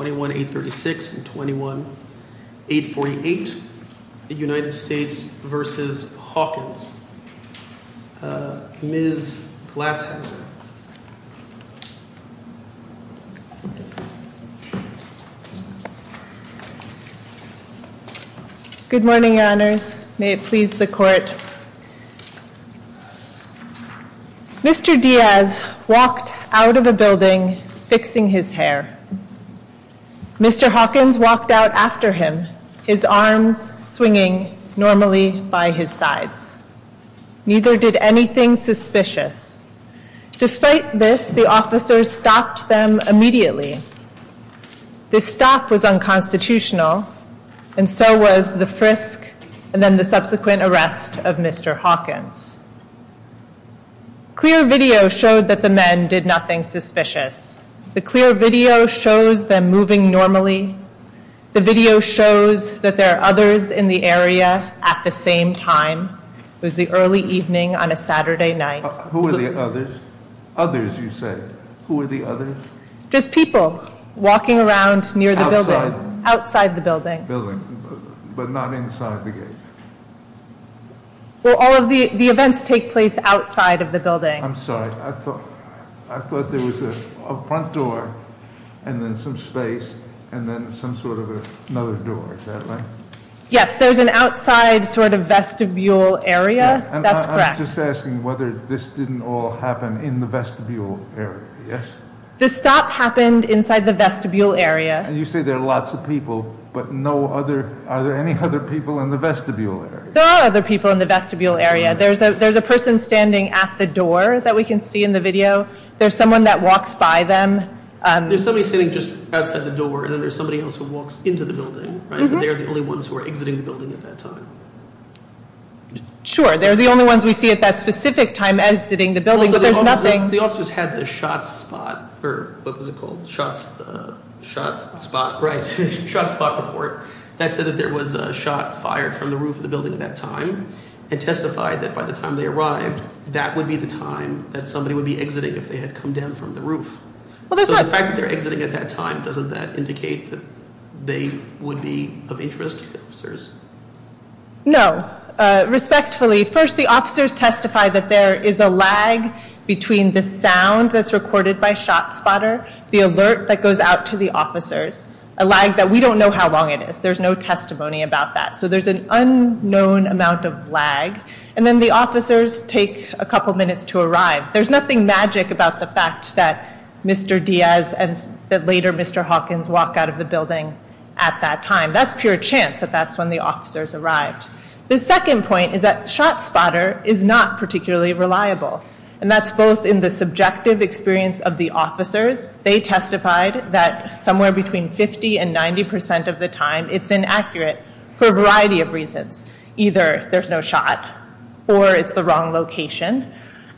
21-836 and 21-848, United States v. Hawkins. Ms. Glasheter. Good morning, Your Honors. May it please the Court. Mr. Diaz walked out of a building fixing his hair. Mr. Hawkins walked out after him, his arms swinging normally by his sides. Neither did anything suspicious. Despite this, the officers stopped them immediately. This stop was unconstitutional, and so was the frisk and then the subsequent arrest of Mr. Hawkins. Clear video showed that the men did nothing suspicious. The clear video shows them moving normally. The video shows that there are others in the area at the same time. It was the early evening on a Saturday night. Who were the others? Others, you say? Who were the others? Just people walking around near the building. Outside? Outside the building. The building, but not inside the gate. All of the events take place outside of the building. I'm sorry. I thought there was a front door and then some space and then some sort of another door. Yes, there's an outside sort of vestibule area. That's correct. I'm just asking whether this didn't all happen in the vestibule area, yes? The stop happened inside the vestibule area. You say there are lots of people, but are there any other people in the vestibule area? There are other people in the vestibule area. There's a person standing at the door that we can see in the video. There's someone that walks by them. There's somebody sitting just outside the door, and then there's somebody else who walks into the building, right? They're the only ones who are exiting the building at that time. Sure, they're the only ones we see at that specific time exiting the building, but there's nothing. Also, the officers had a shot spot, or what was it called? A shot spot report that said that there was a shot fired from the roof of the building at that time and testified that by the time they arrived, that would be the time that somebody would be exiting if they had come down from the roof. The fact that they're exiting at that time, doesn't that indicate that they would be of interest to the officers? No. Respectfully, first, the officers testified that there is a lag between the sound that's recorded by ShotSpotter, the alert that goes out to the officers, a lag that we don't know how long it is. There's no testimony about that. So there's an unknown amount of lag, and then the officers take a couple minutes to arrive. There's nothing magic about the fact that Mr. Diaz and later Mr. Hawkins walk out of the building at that time. That's pure chance that that's when the officers arrived. The second example, and that's both in the subjective experience of the officers, they testified that somewhere between 50% and 90% of the time, it's inaccurate for a variety of reasons. Either there's no shot, or it's the wrong location.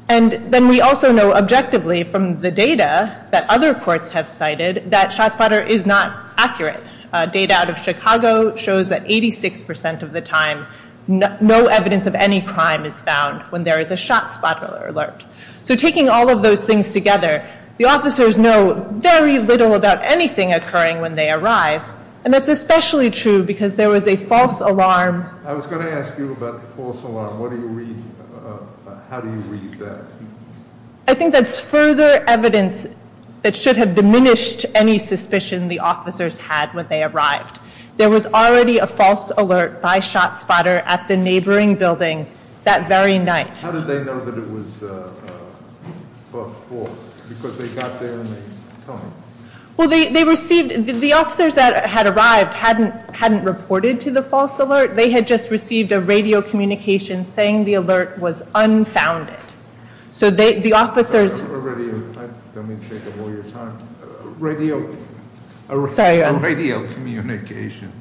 And then we also know objectively from the data that other courts have cited that ShotSpotter is not accurate. Data out of Chicago shows that 86% of the time, no evidence of any crime is found when there is a ShotSpotter alert. So taking all of those things together, the officers know very little about anything occurring when they arrive. And that's especially true because there was a false alarm. I was going to ask you about the false alarm. How do you read that? I think that's further evidence that should have diminished any suspicion the officers had when they arrived. There was already a false alert by ShotSpotter at the neighboring building that very night. How did they know that it was false? Because they got there and they told you? Well, they received, the officers that had arrived hadn't reported to the false alert. They had just received a radio communication saying the alert was unfounded. So the officers- A radio, don't mean to take up all your time. A radio communication.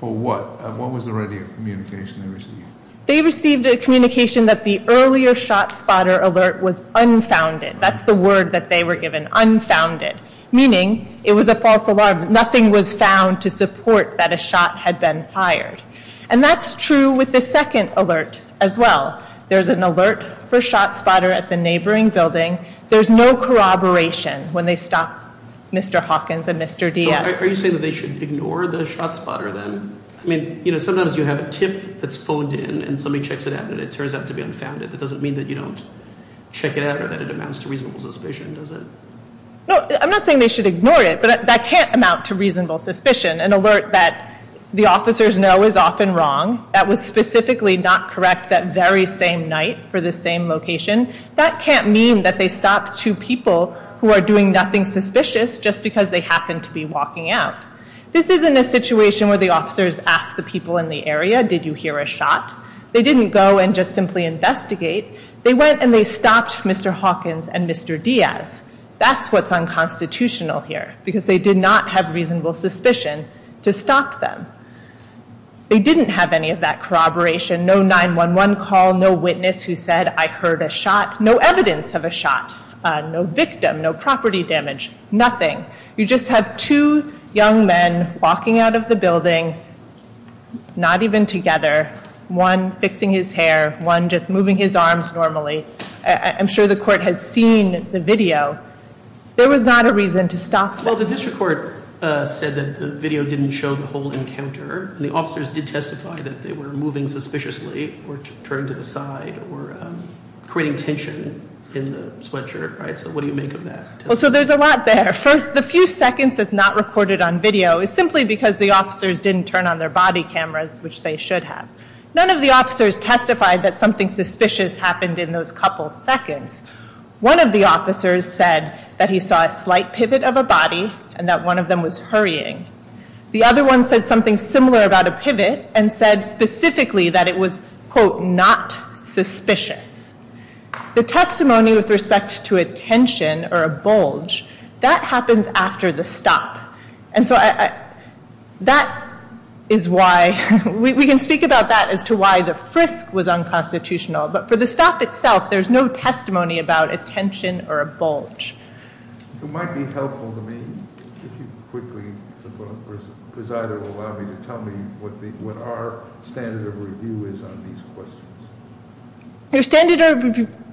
For what? What was the radio communication they received? They received a communication that the earlier ShotSpotter alert was unfounded. That's the word that they were given, unfounded, meaning it was a false alarm. Nothing was found to support that a shot had been fired. And that's true with the second alert as well. There's an alert for ShotSpotter at the neighboring building. There's no corroboration when they stop Mr. Hawkins and Mr. Diaz. So are you saying that they should ignore the ShotSpotter then? I mean, you know, sometimes you have a tip that's phoned in and somebody checks it out and it turns out to be unfounded. That doesn't mean that you don't check it out or that it amounts to reasonable suspicion, does it? No, I'm not saying they should ignore it, but that can't amount to reasonable suspicion. An alert that the officers know is often wrong, that was specifically not correct that very same night for the same location, that can't mean that they stopped two people who are doing nothing suspicious just because they happened to be walking out. This isn't a situation where the officers ask the people in the area, did you hear a shot? They didn't go and just simply investigate. They went and they stopped Mr. Hawkins and Mr. Diaz. That's what's unconstitutional here because they did not have reasonable suspicion to stop them. They didn't have any of that corroboration, no 911 call, no witness who said, I heard a shot, no evidence of a shot, no victim, no property damage, nothing. You just have two young men walking out of the building, not even together, one fixing his hair, one just moving his arms normally. I'm sure the court has seen the video. There was not a reason to stop them. Well, the district court said that the video didn't show the whole encounter. The officers did testify that they were moving suspiciously or turned to the side or creating tension in the sweatshirt, right? So what do you make of that? So there's a lot there. First, the few seconds that's not recorded on video is simply because the officers didn't turn on their body cameras, which they should have. None of the officers testified that something suspicious happened in those couple seconds. One of the officers said that he saw a slight pivot of a body and that one of them was hurrying. The other one said something similar about a pivot and said specifically that it was, quote, not suspicious. The testimony with respect to a tension or a bulge, that happens after the stop. That is why we can speak about that as to why the frisk was unconstitutional. But for the stop itself, there's no testimony about a tension or a bulge. It might be helpful to me if you quickly, if the presider will allow me to tell me what our standard of review is on these questions. Your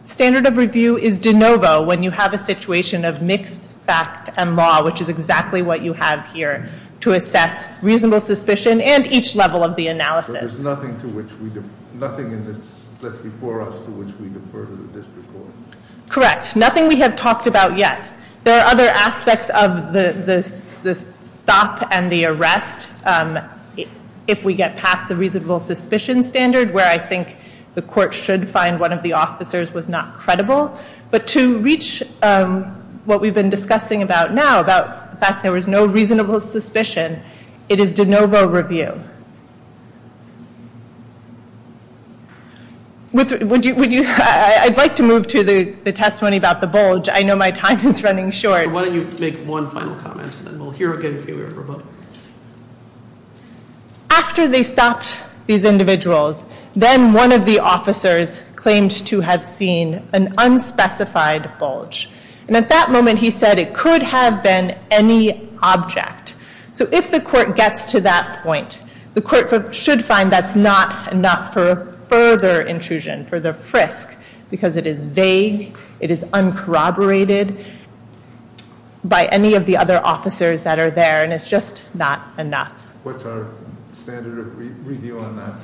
standard of review is de novo when you have a situation of mixed fact and law, which is exactly what you have here to assess reasonable suspicion and each level of the analysis. So there's nothing to which we, nothing that's before us to which we defer to the district court? Correct. Nothing we have talked about yet. There are other aspects of the stop and the arrest if we get past the reasonable suspicion standard, where I think the court should find that one of the officers was not credible. But to reach what we've been discussing about now, about the fact that there was no reasonable suspicion, it is de novo review. Would you, I'd like to move to the testimony about the bulge. I know my time is running short. Why don't you make one final comment and then we'll hear again from you. After they stopped these individuals, then one of the officers claimed to have seen an unspecified bulge. And at that moment he said it could have been any object. So if the court gets to that point, the court should find that's not for further intrusion, for the frisk, because it is vague, it is uncorroborated by any of the other officers that are there and it's just not enough. What's our standard of review on that?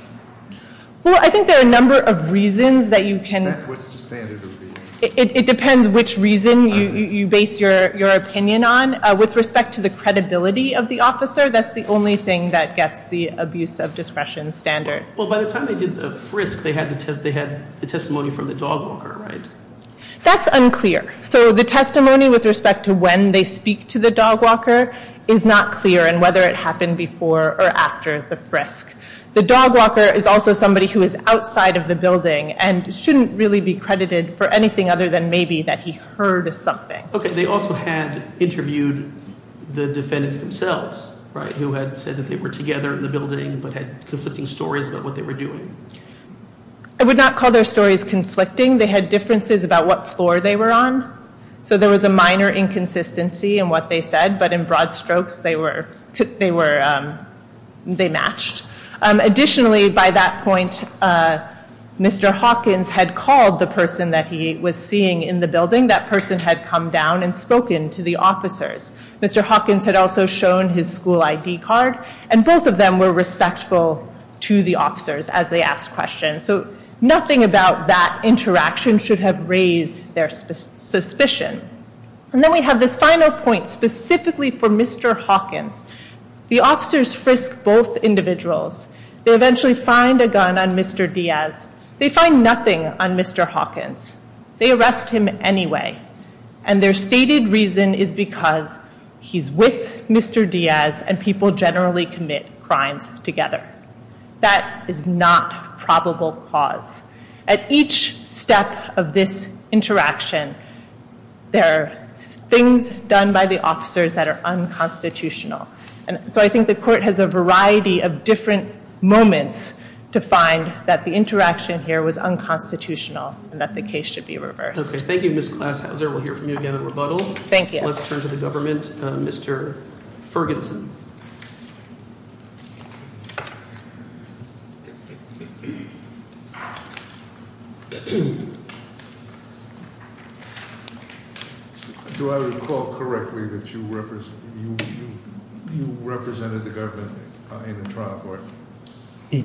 Well, I think there are a number of reasons that you can... What's the standard of review? It depends which reason you base your opinion on. With respect to the credibility of the officer, that's the only thing that gets the abuse of discretion standard. Well, by the time they did the frisk, they had the testimony from the dog walker, right? That's unclear. So the testimony with respect to when they speak to the dog walker is not clear and whether it happened before or after the frisk. The dog walker is also somebody who is outside of the building and shouldn't really be credited for anything other than maybe that he heard something. Okay, they also had interviewed the defendants themselves, right, who had said that they were together in the building but had conflicting stories about what they were doing. I would not call their stories conflicting. They had differences about what floor they were on. So there was a minor inconsistency in what they said, but in broad strokes, they were... They matched. Additionally, by that point, Mr. Hawkins had called the person that he was seeing in the building. That person had come down and spoken to the officers. Mr. Hawkins had also shown his school ID card, and both of them were respectful to the officers as they asked questions. So nothing about that interaction should have raised their suspicion. And then we have this final point specifically for Mr. Hawkins. The officers frisk both individuals. They eventually find a gun on Mr. Diaz. They find nothing on Mr. Hawkins. They arrest him anyway, and their stated reason is because he's with Mr. Diaz and people generally commit crimes together. That is not probable cause. At each step of this interaction, there are things done by the officers that are unconstitutional. So I think the court has a variety of different moments to find that the interaction here was unconstitutional and that the case should be reversed. Okay. Thank you, Ms. Glashauser. We'll hear from you again in rebuttal. Thank you. Let's turn to the government. Mr. Ferguson. Do I recall correctly that you represented the government in the trial court?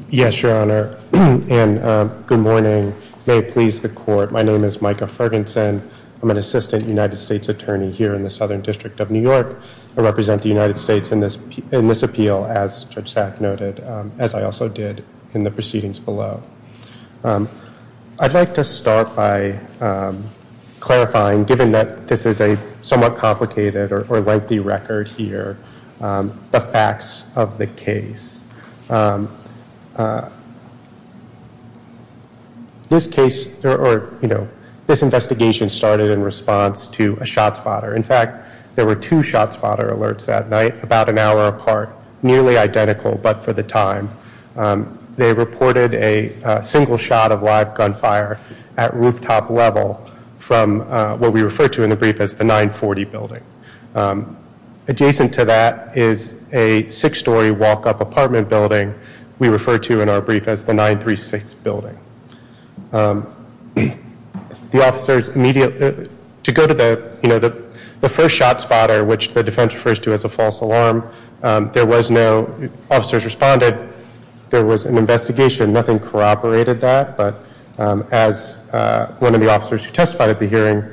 Yes, Your Honor, and good morning. May it please the court, my name is Micah Ferguson. I'm an assistant United States attorney here in the Southern District of New York. I represent the United States in this appeal, as Judge Sack noted, as I also did in the proceedings below. I'd like to start by clarifying, given that this is a somewhat complicated or lengthy record here, the facts of the case. This investigation started in response to a shot spotter. In fact, there were two shot spotter alerts that night, about an hour apart, nearly identical but for the time. They reported a single shot of live gunfire at rooftop level from what we refer to in the brief as the 940 building. Adjacent to that is a six-story walk-up apartment building we refer to in our brief as the 936 building. The officers immediately, to go to the first shot spotter, which the defense refers to as a false alarm, there was no, officers responded, there was an investigation, nothing corroborated that, but as one of the officers who testified at the hearing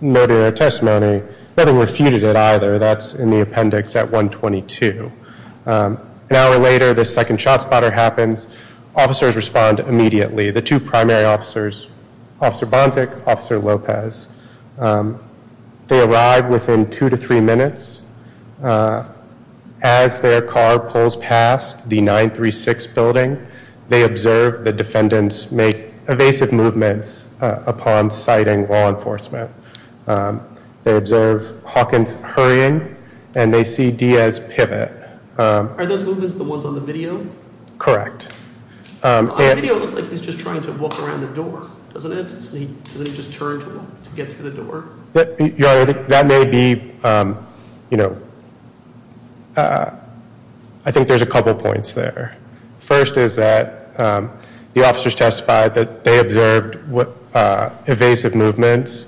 noted in their testimony, nothing refuted it either, that's in the appendix at 122. An hour later, the second shot spotter happens, officers respond immediately. The two primary officers, Officer Bonsack, Officer Lopez, they arrive within two to three minutes. As their car pulls past the 936 building, they observe the defendants make evasive movements upon sighting law enforcement. They observe Hawkins hurrying and they see Diaz pivot. Are those movements the ones on the video? Correct. On the video it looks like he's just trying to walk around the door, doesn't it? Doesn't he just turn to get through the door? That may be, you know, I think there's a couple points there. First is that the officers testified that they observed evasive movements.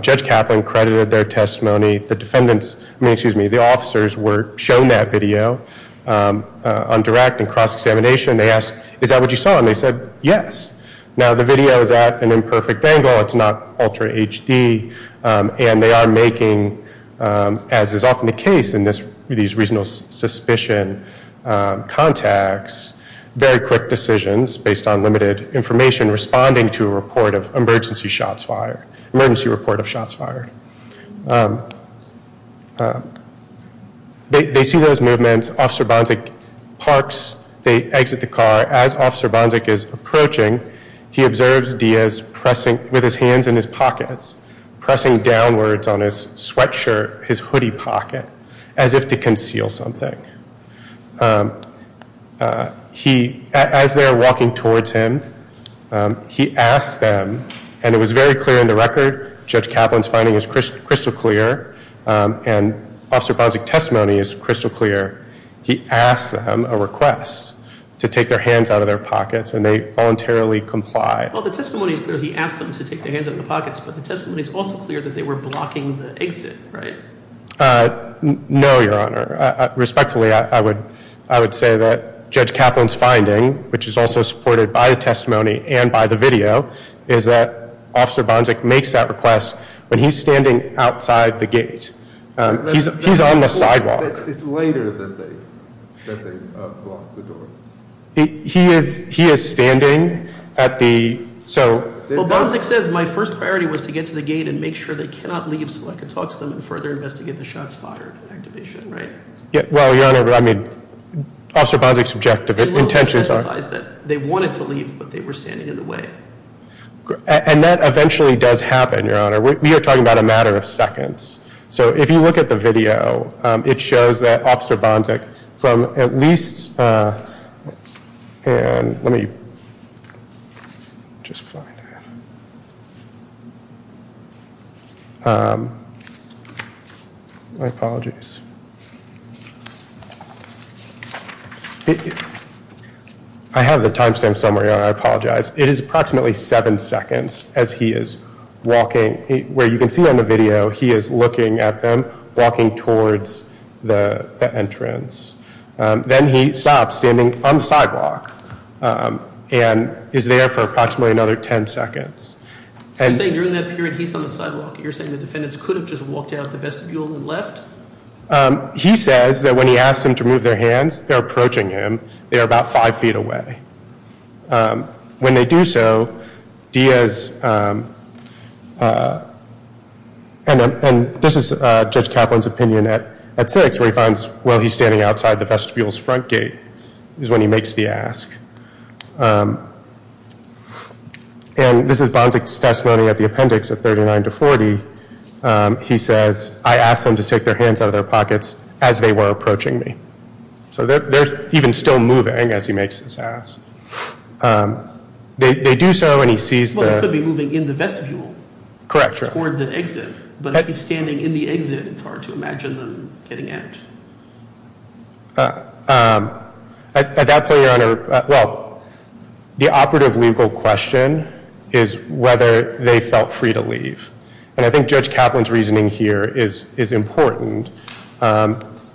Judge Kaplan credited their testimony. The defendants, I mean, excuse me, the officers were shown that video on direct and cross-examination. They asked, is that what you saw? And they said, yes. Now the video is at an imperfect angle. It's not ultra HD. And they are making, as is often the case in these reasonable suspicion contacts, very quick decisions based on limited information responding to a report of emergency shots fired. Emergency report of shots fired. They see those movements. Officer Bonsack parks. They exit the car. As Officer Bonsack is approaching, he observes Diaz pressing, with his hands in his pockets, pressing downwards on his sweatshirt, his hoodie pocket, as if to conceal something. He, as they're walking towards him, he asks them, and it was very clear in the record, Judge Kaplan's finding is crystal clear, and Officer Bonsack's testimony is crystal clear. He asks them a request to take their hands out of their pockets, and they voluntarily comply. Well, the testimony is clear. He asked them to take their hands out of their pockets. But the testimony is also clear that they were blocking the exit, right? No, Your Honor. Respectfully, I would say that Judge Kaplan's finding, which is also supported by the testimony and by the video, is that Officer Bonsack makes that request when he's standing outside the gate. He's on the sidewalk. It's later that they block the door. He is standing at the, so. Well, Bonsack says, my first priority was to get to the gate and make sure they cannot leave so I could talk to them and further investigate the shots fired activation, right? Well, Your Honor, I mean, Officer Bonsack's objective, intentions are. They wanted to leave, but they were standing in the way. And that eventually does happen, Your Honor. We are talking about a matter of seconds. So if you look at the video, it shows that Officer Bonsack from at least. And let me just find it. My apologies. I have the timestamp somewhere, Your Honor. I apologize. It is approximately seven seconds as he is walking. Where you can see on the video, he is looking at them, walking towards the entrance. Then he stops standing on the sidewalk and is there for approximately another ten seconds. So you're saying during that period he's on the sidewalk. You're saying the defendants could have just walked out the vestibule and left? He says that when he asks them to move their hands, they're approaching him. They're about five feet away. When they do so, Diaz, and this is Judge Kaplan's opinion at six, where he finds while he's standing outside the vestibule's front gate is when he makes the ask. And this is Bonsack's testimony at the appendix at 39 to 40. He says, I asked them to take their hands out of their pockets as they were approaching me. So they're even still moving as he makes this ask. They do so and he sees the- Well, they could be moving in the vestibule. Correct. Toward the exit. But if he's standing in the exit, it's hard to imagine them getting out. At that point, Your Honor, well, the operative legal question is whether they felt free to leave. And I think Judge Kaplan's reasoning here is important.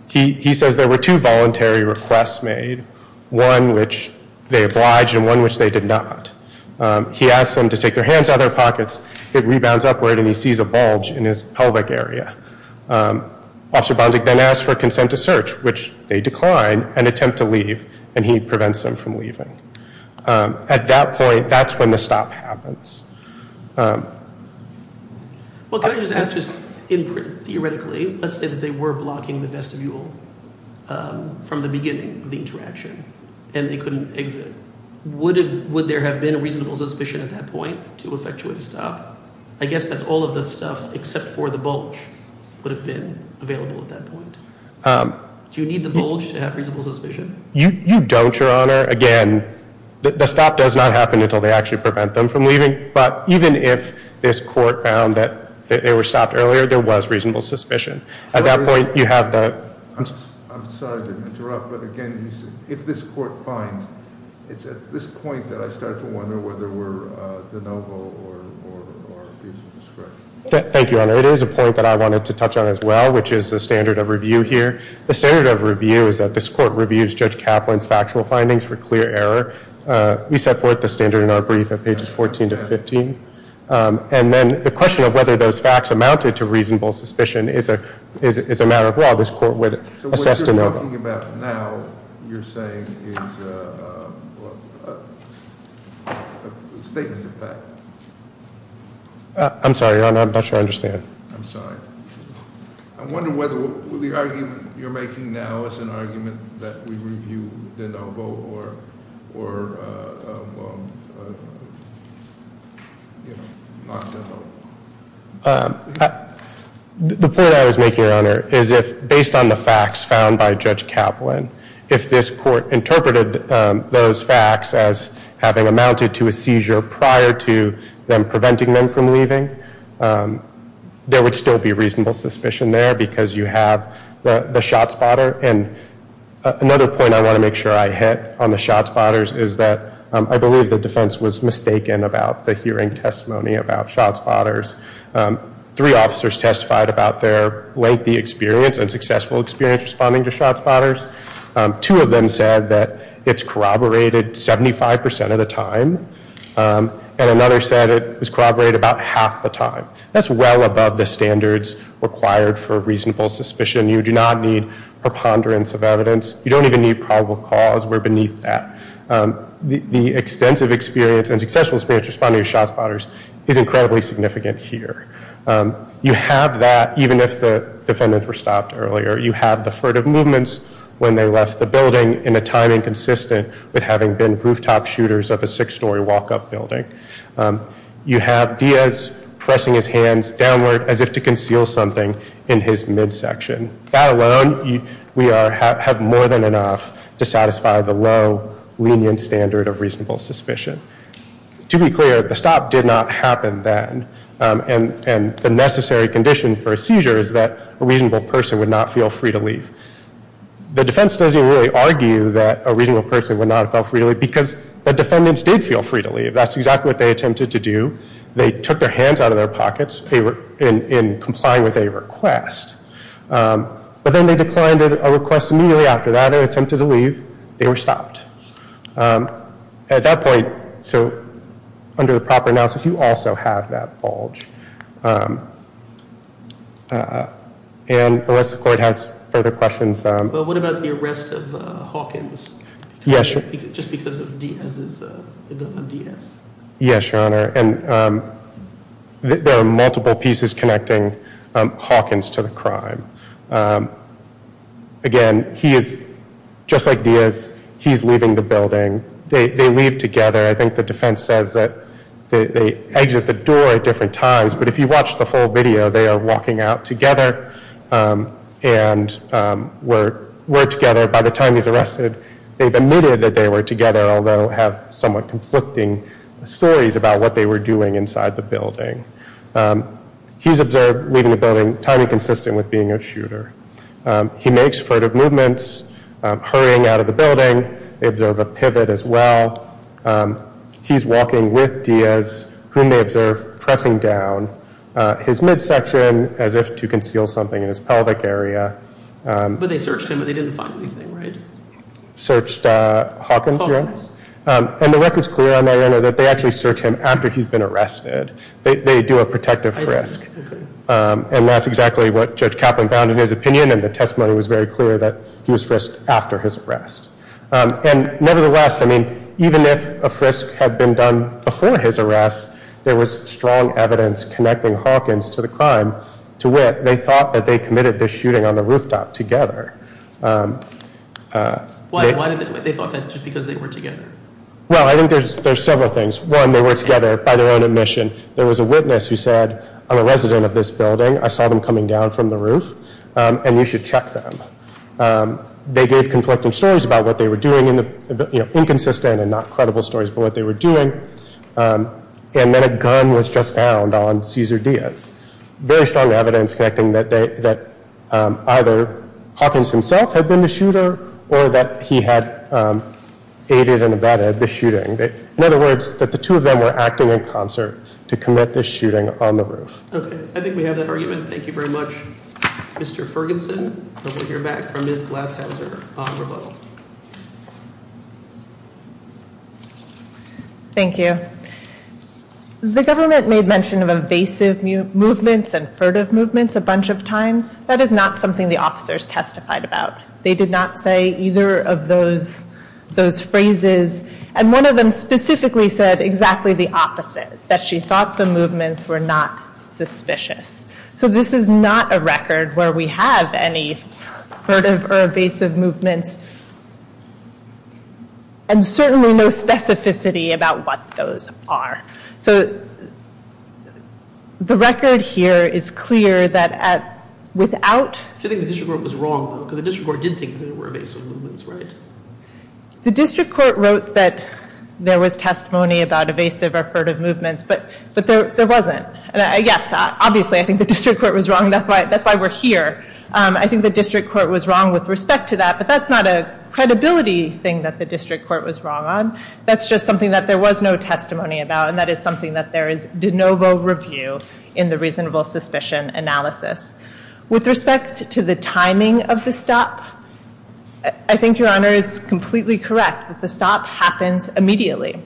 He says there were two voluntary requests made, one which they obliged and one which they did not. He asked them to take their hands out of their pockets. It rebounds upward and he sees a bulge in his pelvic area. Officer Bonsack then asks for consent to search, which they decline, and attempt to leave. And he prevents them from leaving. At that point, that's when the stop happens. Well, can I just ask just theoretically, let's say that they were blocking the vestibule from the beginning of the interaction and they couldn't exit. Would there have been a reasonable suspicion at that point to effectuate a stop? I guess that's all of the stuff except for the bulge would have been available at that point. Do you need the bulge to have reasonable suspicion? You don't, Your Honor. Again, the stop does not happen until they actually prevent them from leaving. But even if this court found that they were stopped earlier, there was reasonable suspicion. At that point, you have the- I'm sorry to interrupt, but again, if this court finds, it's at this point that I start to wonder whether we're de novo or abuse of discretion. Thank you, Your Honor. It is a point that I wanted to touch on as well, which is the standard of review here. The standard of review is that this court reviews Judge Kaplan's factual findings for clear error. We set forth the standard in our brief at pages 14 to 15. And then the question of whether those facts amounted to reasonable suspicion is a matter of law. This court would assess de novo. So what you're talking about now, you're saying, is a statement of fact? I'm sorry, Your Honor. I'm not sure I understand. I'm sorry. I wonder whether the argument you're making now is an argument that we review de novo or not de novo. The point I was making, Your Honor, is if based on the facts found by Judge Kaplan, if this court interpreted those facts as having amounted to a seizure prior to them preventing them from leaving, there would still be reasonable suspicion there because you have the shot spotter. And another point I want to make sure I hit on the shot spotters is that I believe the defense was mistaken about the hearing testimony about shot spotters. Three officers testified about their lengthy experience and successful experience responding to shot spotters. Two of them said that it's corroborated 75 percent of the time. And another said it was corroborated about half the time. That's well above the standards required for reasonable suspicion. You do not need preponderance of evidence. You don't even need probable cause. We're beneath that. The extensive experience and successful experience responding to shot spotters is incredibly significant here. You have that even if the defendants were stopped earlier. You have the furtive movements when they left the building in a timing consistent with having been rooftop shooters of a six-story walk-up building. You have Diaz pressing his hands downward as if to conceal something in his midsection. That alone, we have more than enough to satisfy the low lenient standard of reasonable suspicion. To be clear, the stop did not happen then. And the necessary condition for a seizure is that a reasonable person would not feel free to leave. The defense doesn't really argue that a reasonable person would not have felt free to leave because the defendants did feel free to leave. That's exactly what they attempted to do. They took their hands out of their pockets in complying with a request. But then they declined a request immediately after that and attempted to leave. They were stopped. At that point, so under the proper analysis, you also have that bulge. And unless the court has further questions. But what about the arrest of Hawkins? Yes, Your Honor. Just because of Diaz's, the gun of Diaz? Yes, Your Honor. And there are multiple pieces connecting Hawkins to the crime. Again, he is, just like Diaz, he's leaving the building. They leave together. I think the defense says that they exit the door at different times. But if you watch the full video, they are walking out together and were together. By the time he's arrested, they've admitted that they were together, although have somewhat conflicting stories about what they were doing inside the building. He's observed leaving the building, timing consistent with being a shooter. He makes furtive movements, hurrying out of the building. They observe a pivot as well. He's walking with Diaz, whom they observe pressing down his midsection as if to conceal something in his pelvic area. But they searched him, but they didn't find anything, right? Searched Hawkins, Your Honor. Hawkins. And the record's clear on that, Your Honor, that they actually search him after he's been arrested. They do a protective frisk. And that's exactly what Judge Kaplan found in his opinion, and the testimony was very clear that he was frisked after his arrest. And nevertheless, I mean, even if a frisk had been done before his arrest, there was strong evidence connecting Hawkins to the crime. To wit, they thought that they committed the shooting on the rooftop together. Why did they think that? Just because they were together? Well, I think there's several things. One, they were together by their own admission. There was a witness who said, I'm a resident of this building. I saw them coming down from the roof, and you should check them. They gave conflicting stories about what they were doing, inconsistent and not credible stories about what they were doing. And then a gun was just found on Cesar Diaz. Very strong evidence connecting that either Hawkins himself had been the shooter or that he had aided and abetted the shooting. In other words, that the two of them were acting in concert to commit the shooting on the roof. Okay. I think we have that argument. Thank you very much, Mr. Ferguson. We'll hear back from Ms. Glashauser on rebuttal. Thank you. The government made mention of evasive movements and furtive movements a bunch of times. That is not something the officers testified about. They did not say either of those phrases. And one of them specifically said exactly the opposite, that she thought the movements were not suspicious. So this is not a record where we have any furtive or evasive movements. And certainly no specificity about what those are. So the record here is clear that without... Do you think the district court was wrong though? Because the district court did think there were evasive movements, right? The district court wrote that there was testimony about evasive or furtive movements. But there wasn't. Yes, obviously I think the district court was wrong. That's why we're here. I think the district court was wrong with respect to that. But that's not a credibility thing that the district court was wrong on. That's just something that there was no testimony about. And that is something that there is de novo review in the reasonable suspicion analysis. With respect to the timing of the stop, I think Your Honor is completely correct that the stop happens immediately.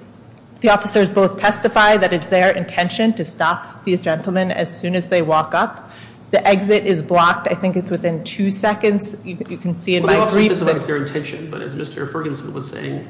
The officers both testify that it's their intention to stop these gentlemen as soon as they walk up. The exit is blocked. I think it's within two seconds. You can see in my brief that... Well, the officers say it's their intention, but as Mr. Ferguson was saying,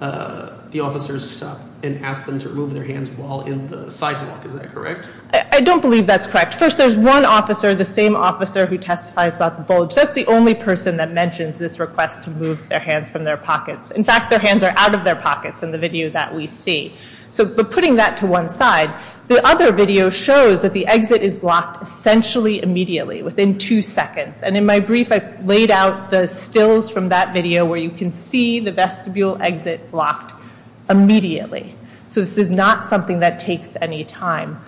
the officers stop and ask them to remove their hands while in the sidewalk. Is that correct? I don't believe that's correct. First, there's one officer, the same officer who testifies about the bulge. That's the only person that mentions this request to move their hands from their pockets. In fact, their hands are out of their pockets in the video that we see. But putting that to one side, the other video shows that the exit is blocked essentially immediately, within two seconds. And in my brief, I laid out the stills from that video where you can see the vestibule exit blocked immediately. So this is not something that takes any time.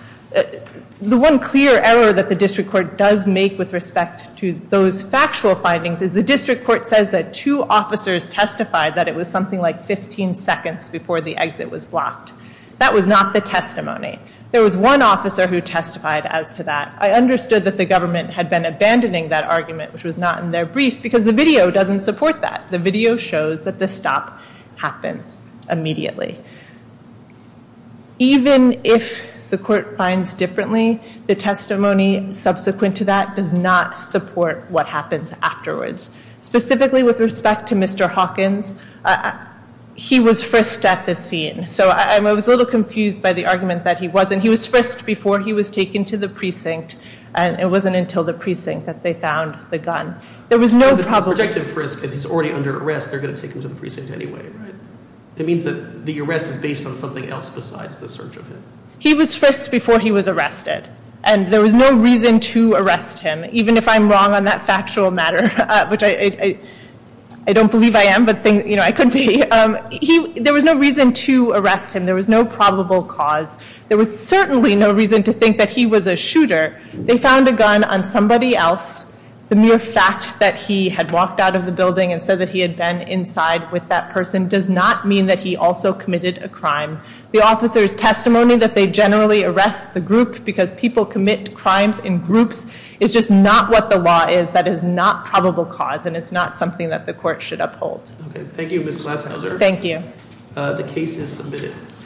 The one clear error that the district court does make with respect to those factual findings is the district court says that two officers testified that it was something like 15 seconds before the exit was blocked. That was not the testimony. There was one officer who testified as to that. I understood that the government had been abandoning that argument, which was not in their brief, because the video doesn't support that. The video shows that the stop happens immediately. Even if the court finds differently, the testimony subsequent to that does not support what happens afterwards. Specifically with respect to Mr. Hawkins, he was frisked at the scene. So I was a little confused by the argument that he wasn't. He was frisked before he was taken to the precinct, and it wasn't until the precinct that they found the gun. There was no probable- If he's already under arrest, they're going to take him to the precinct anyway, right? It means that the arrest is based on something else besides the search of him. He was frisked before he was arrested, and there was no reason to arrest him, even if I'm wrong on that factual matter, which I don't believe I am, but I could be. There was no reason to arrest him. There was no probable cause. There was certainly no reason to think that he was a shooter. They found a gun on somebody else. The mere fact that he had walked out of the building and said that he had been inside with that person does not mean that he also committed a crime. The officer's testimony that they generally arrest the group because people commit crimes in groups is just not what the law is. That is not probable cause, and it's not something that the court should uphold. Okay. Thank you, Ms. Glaskauser. Thank you. The case is submitted.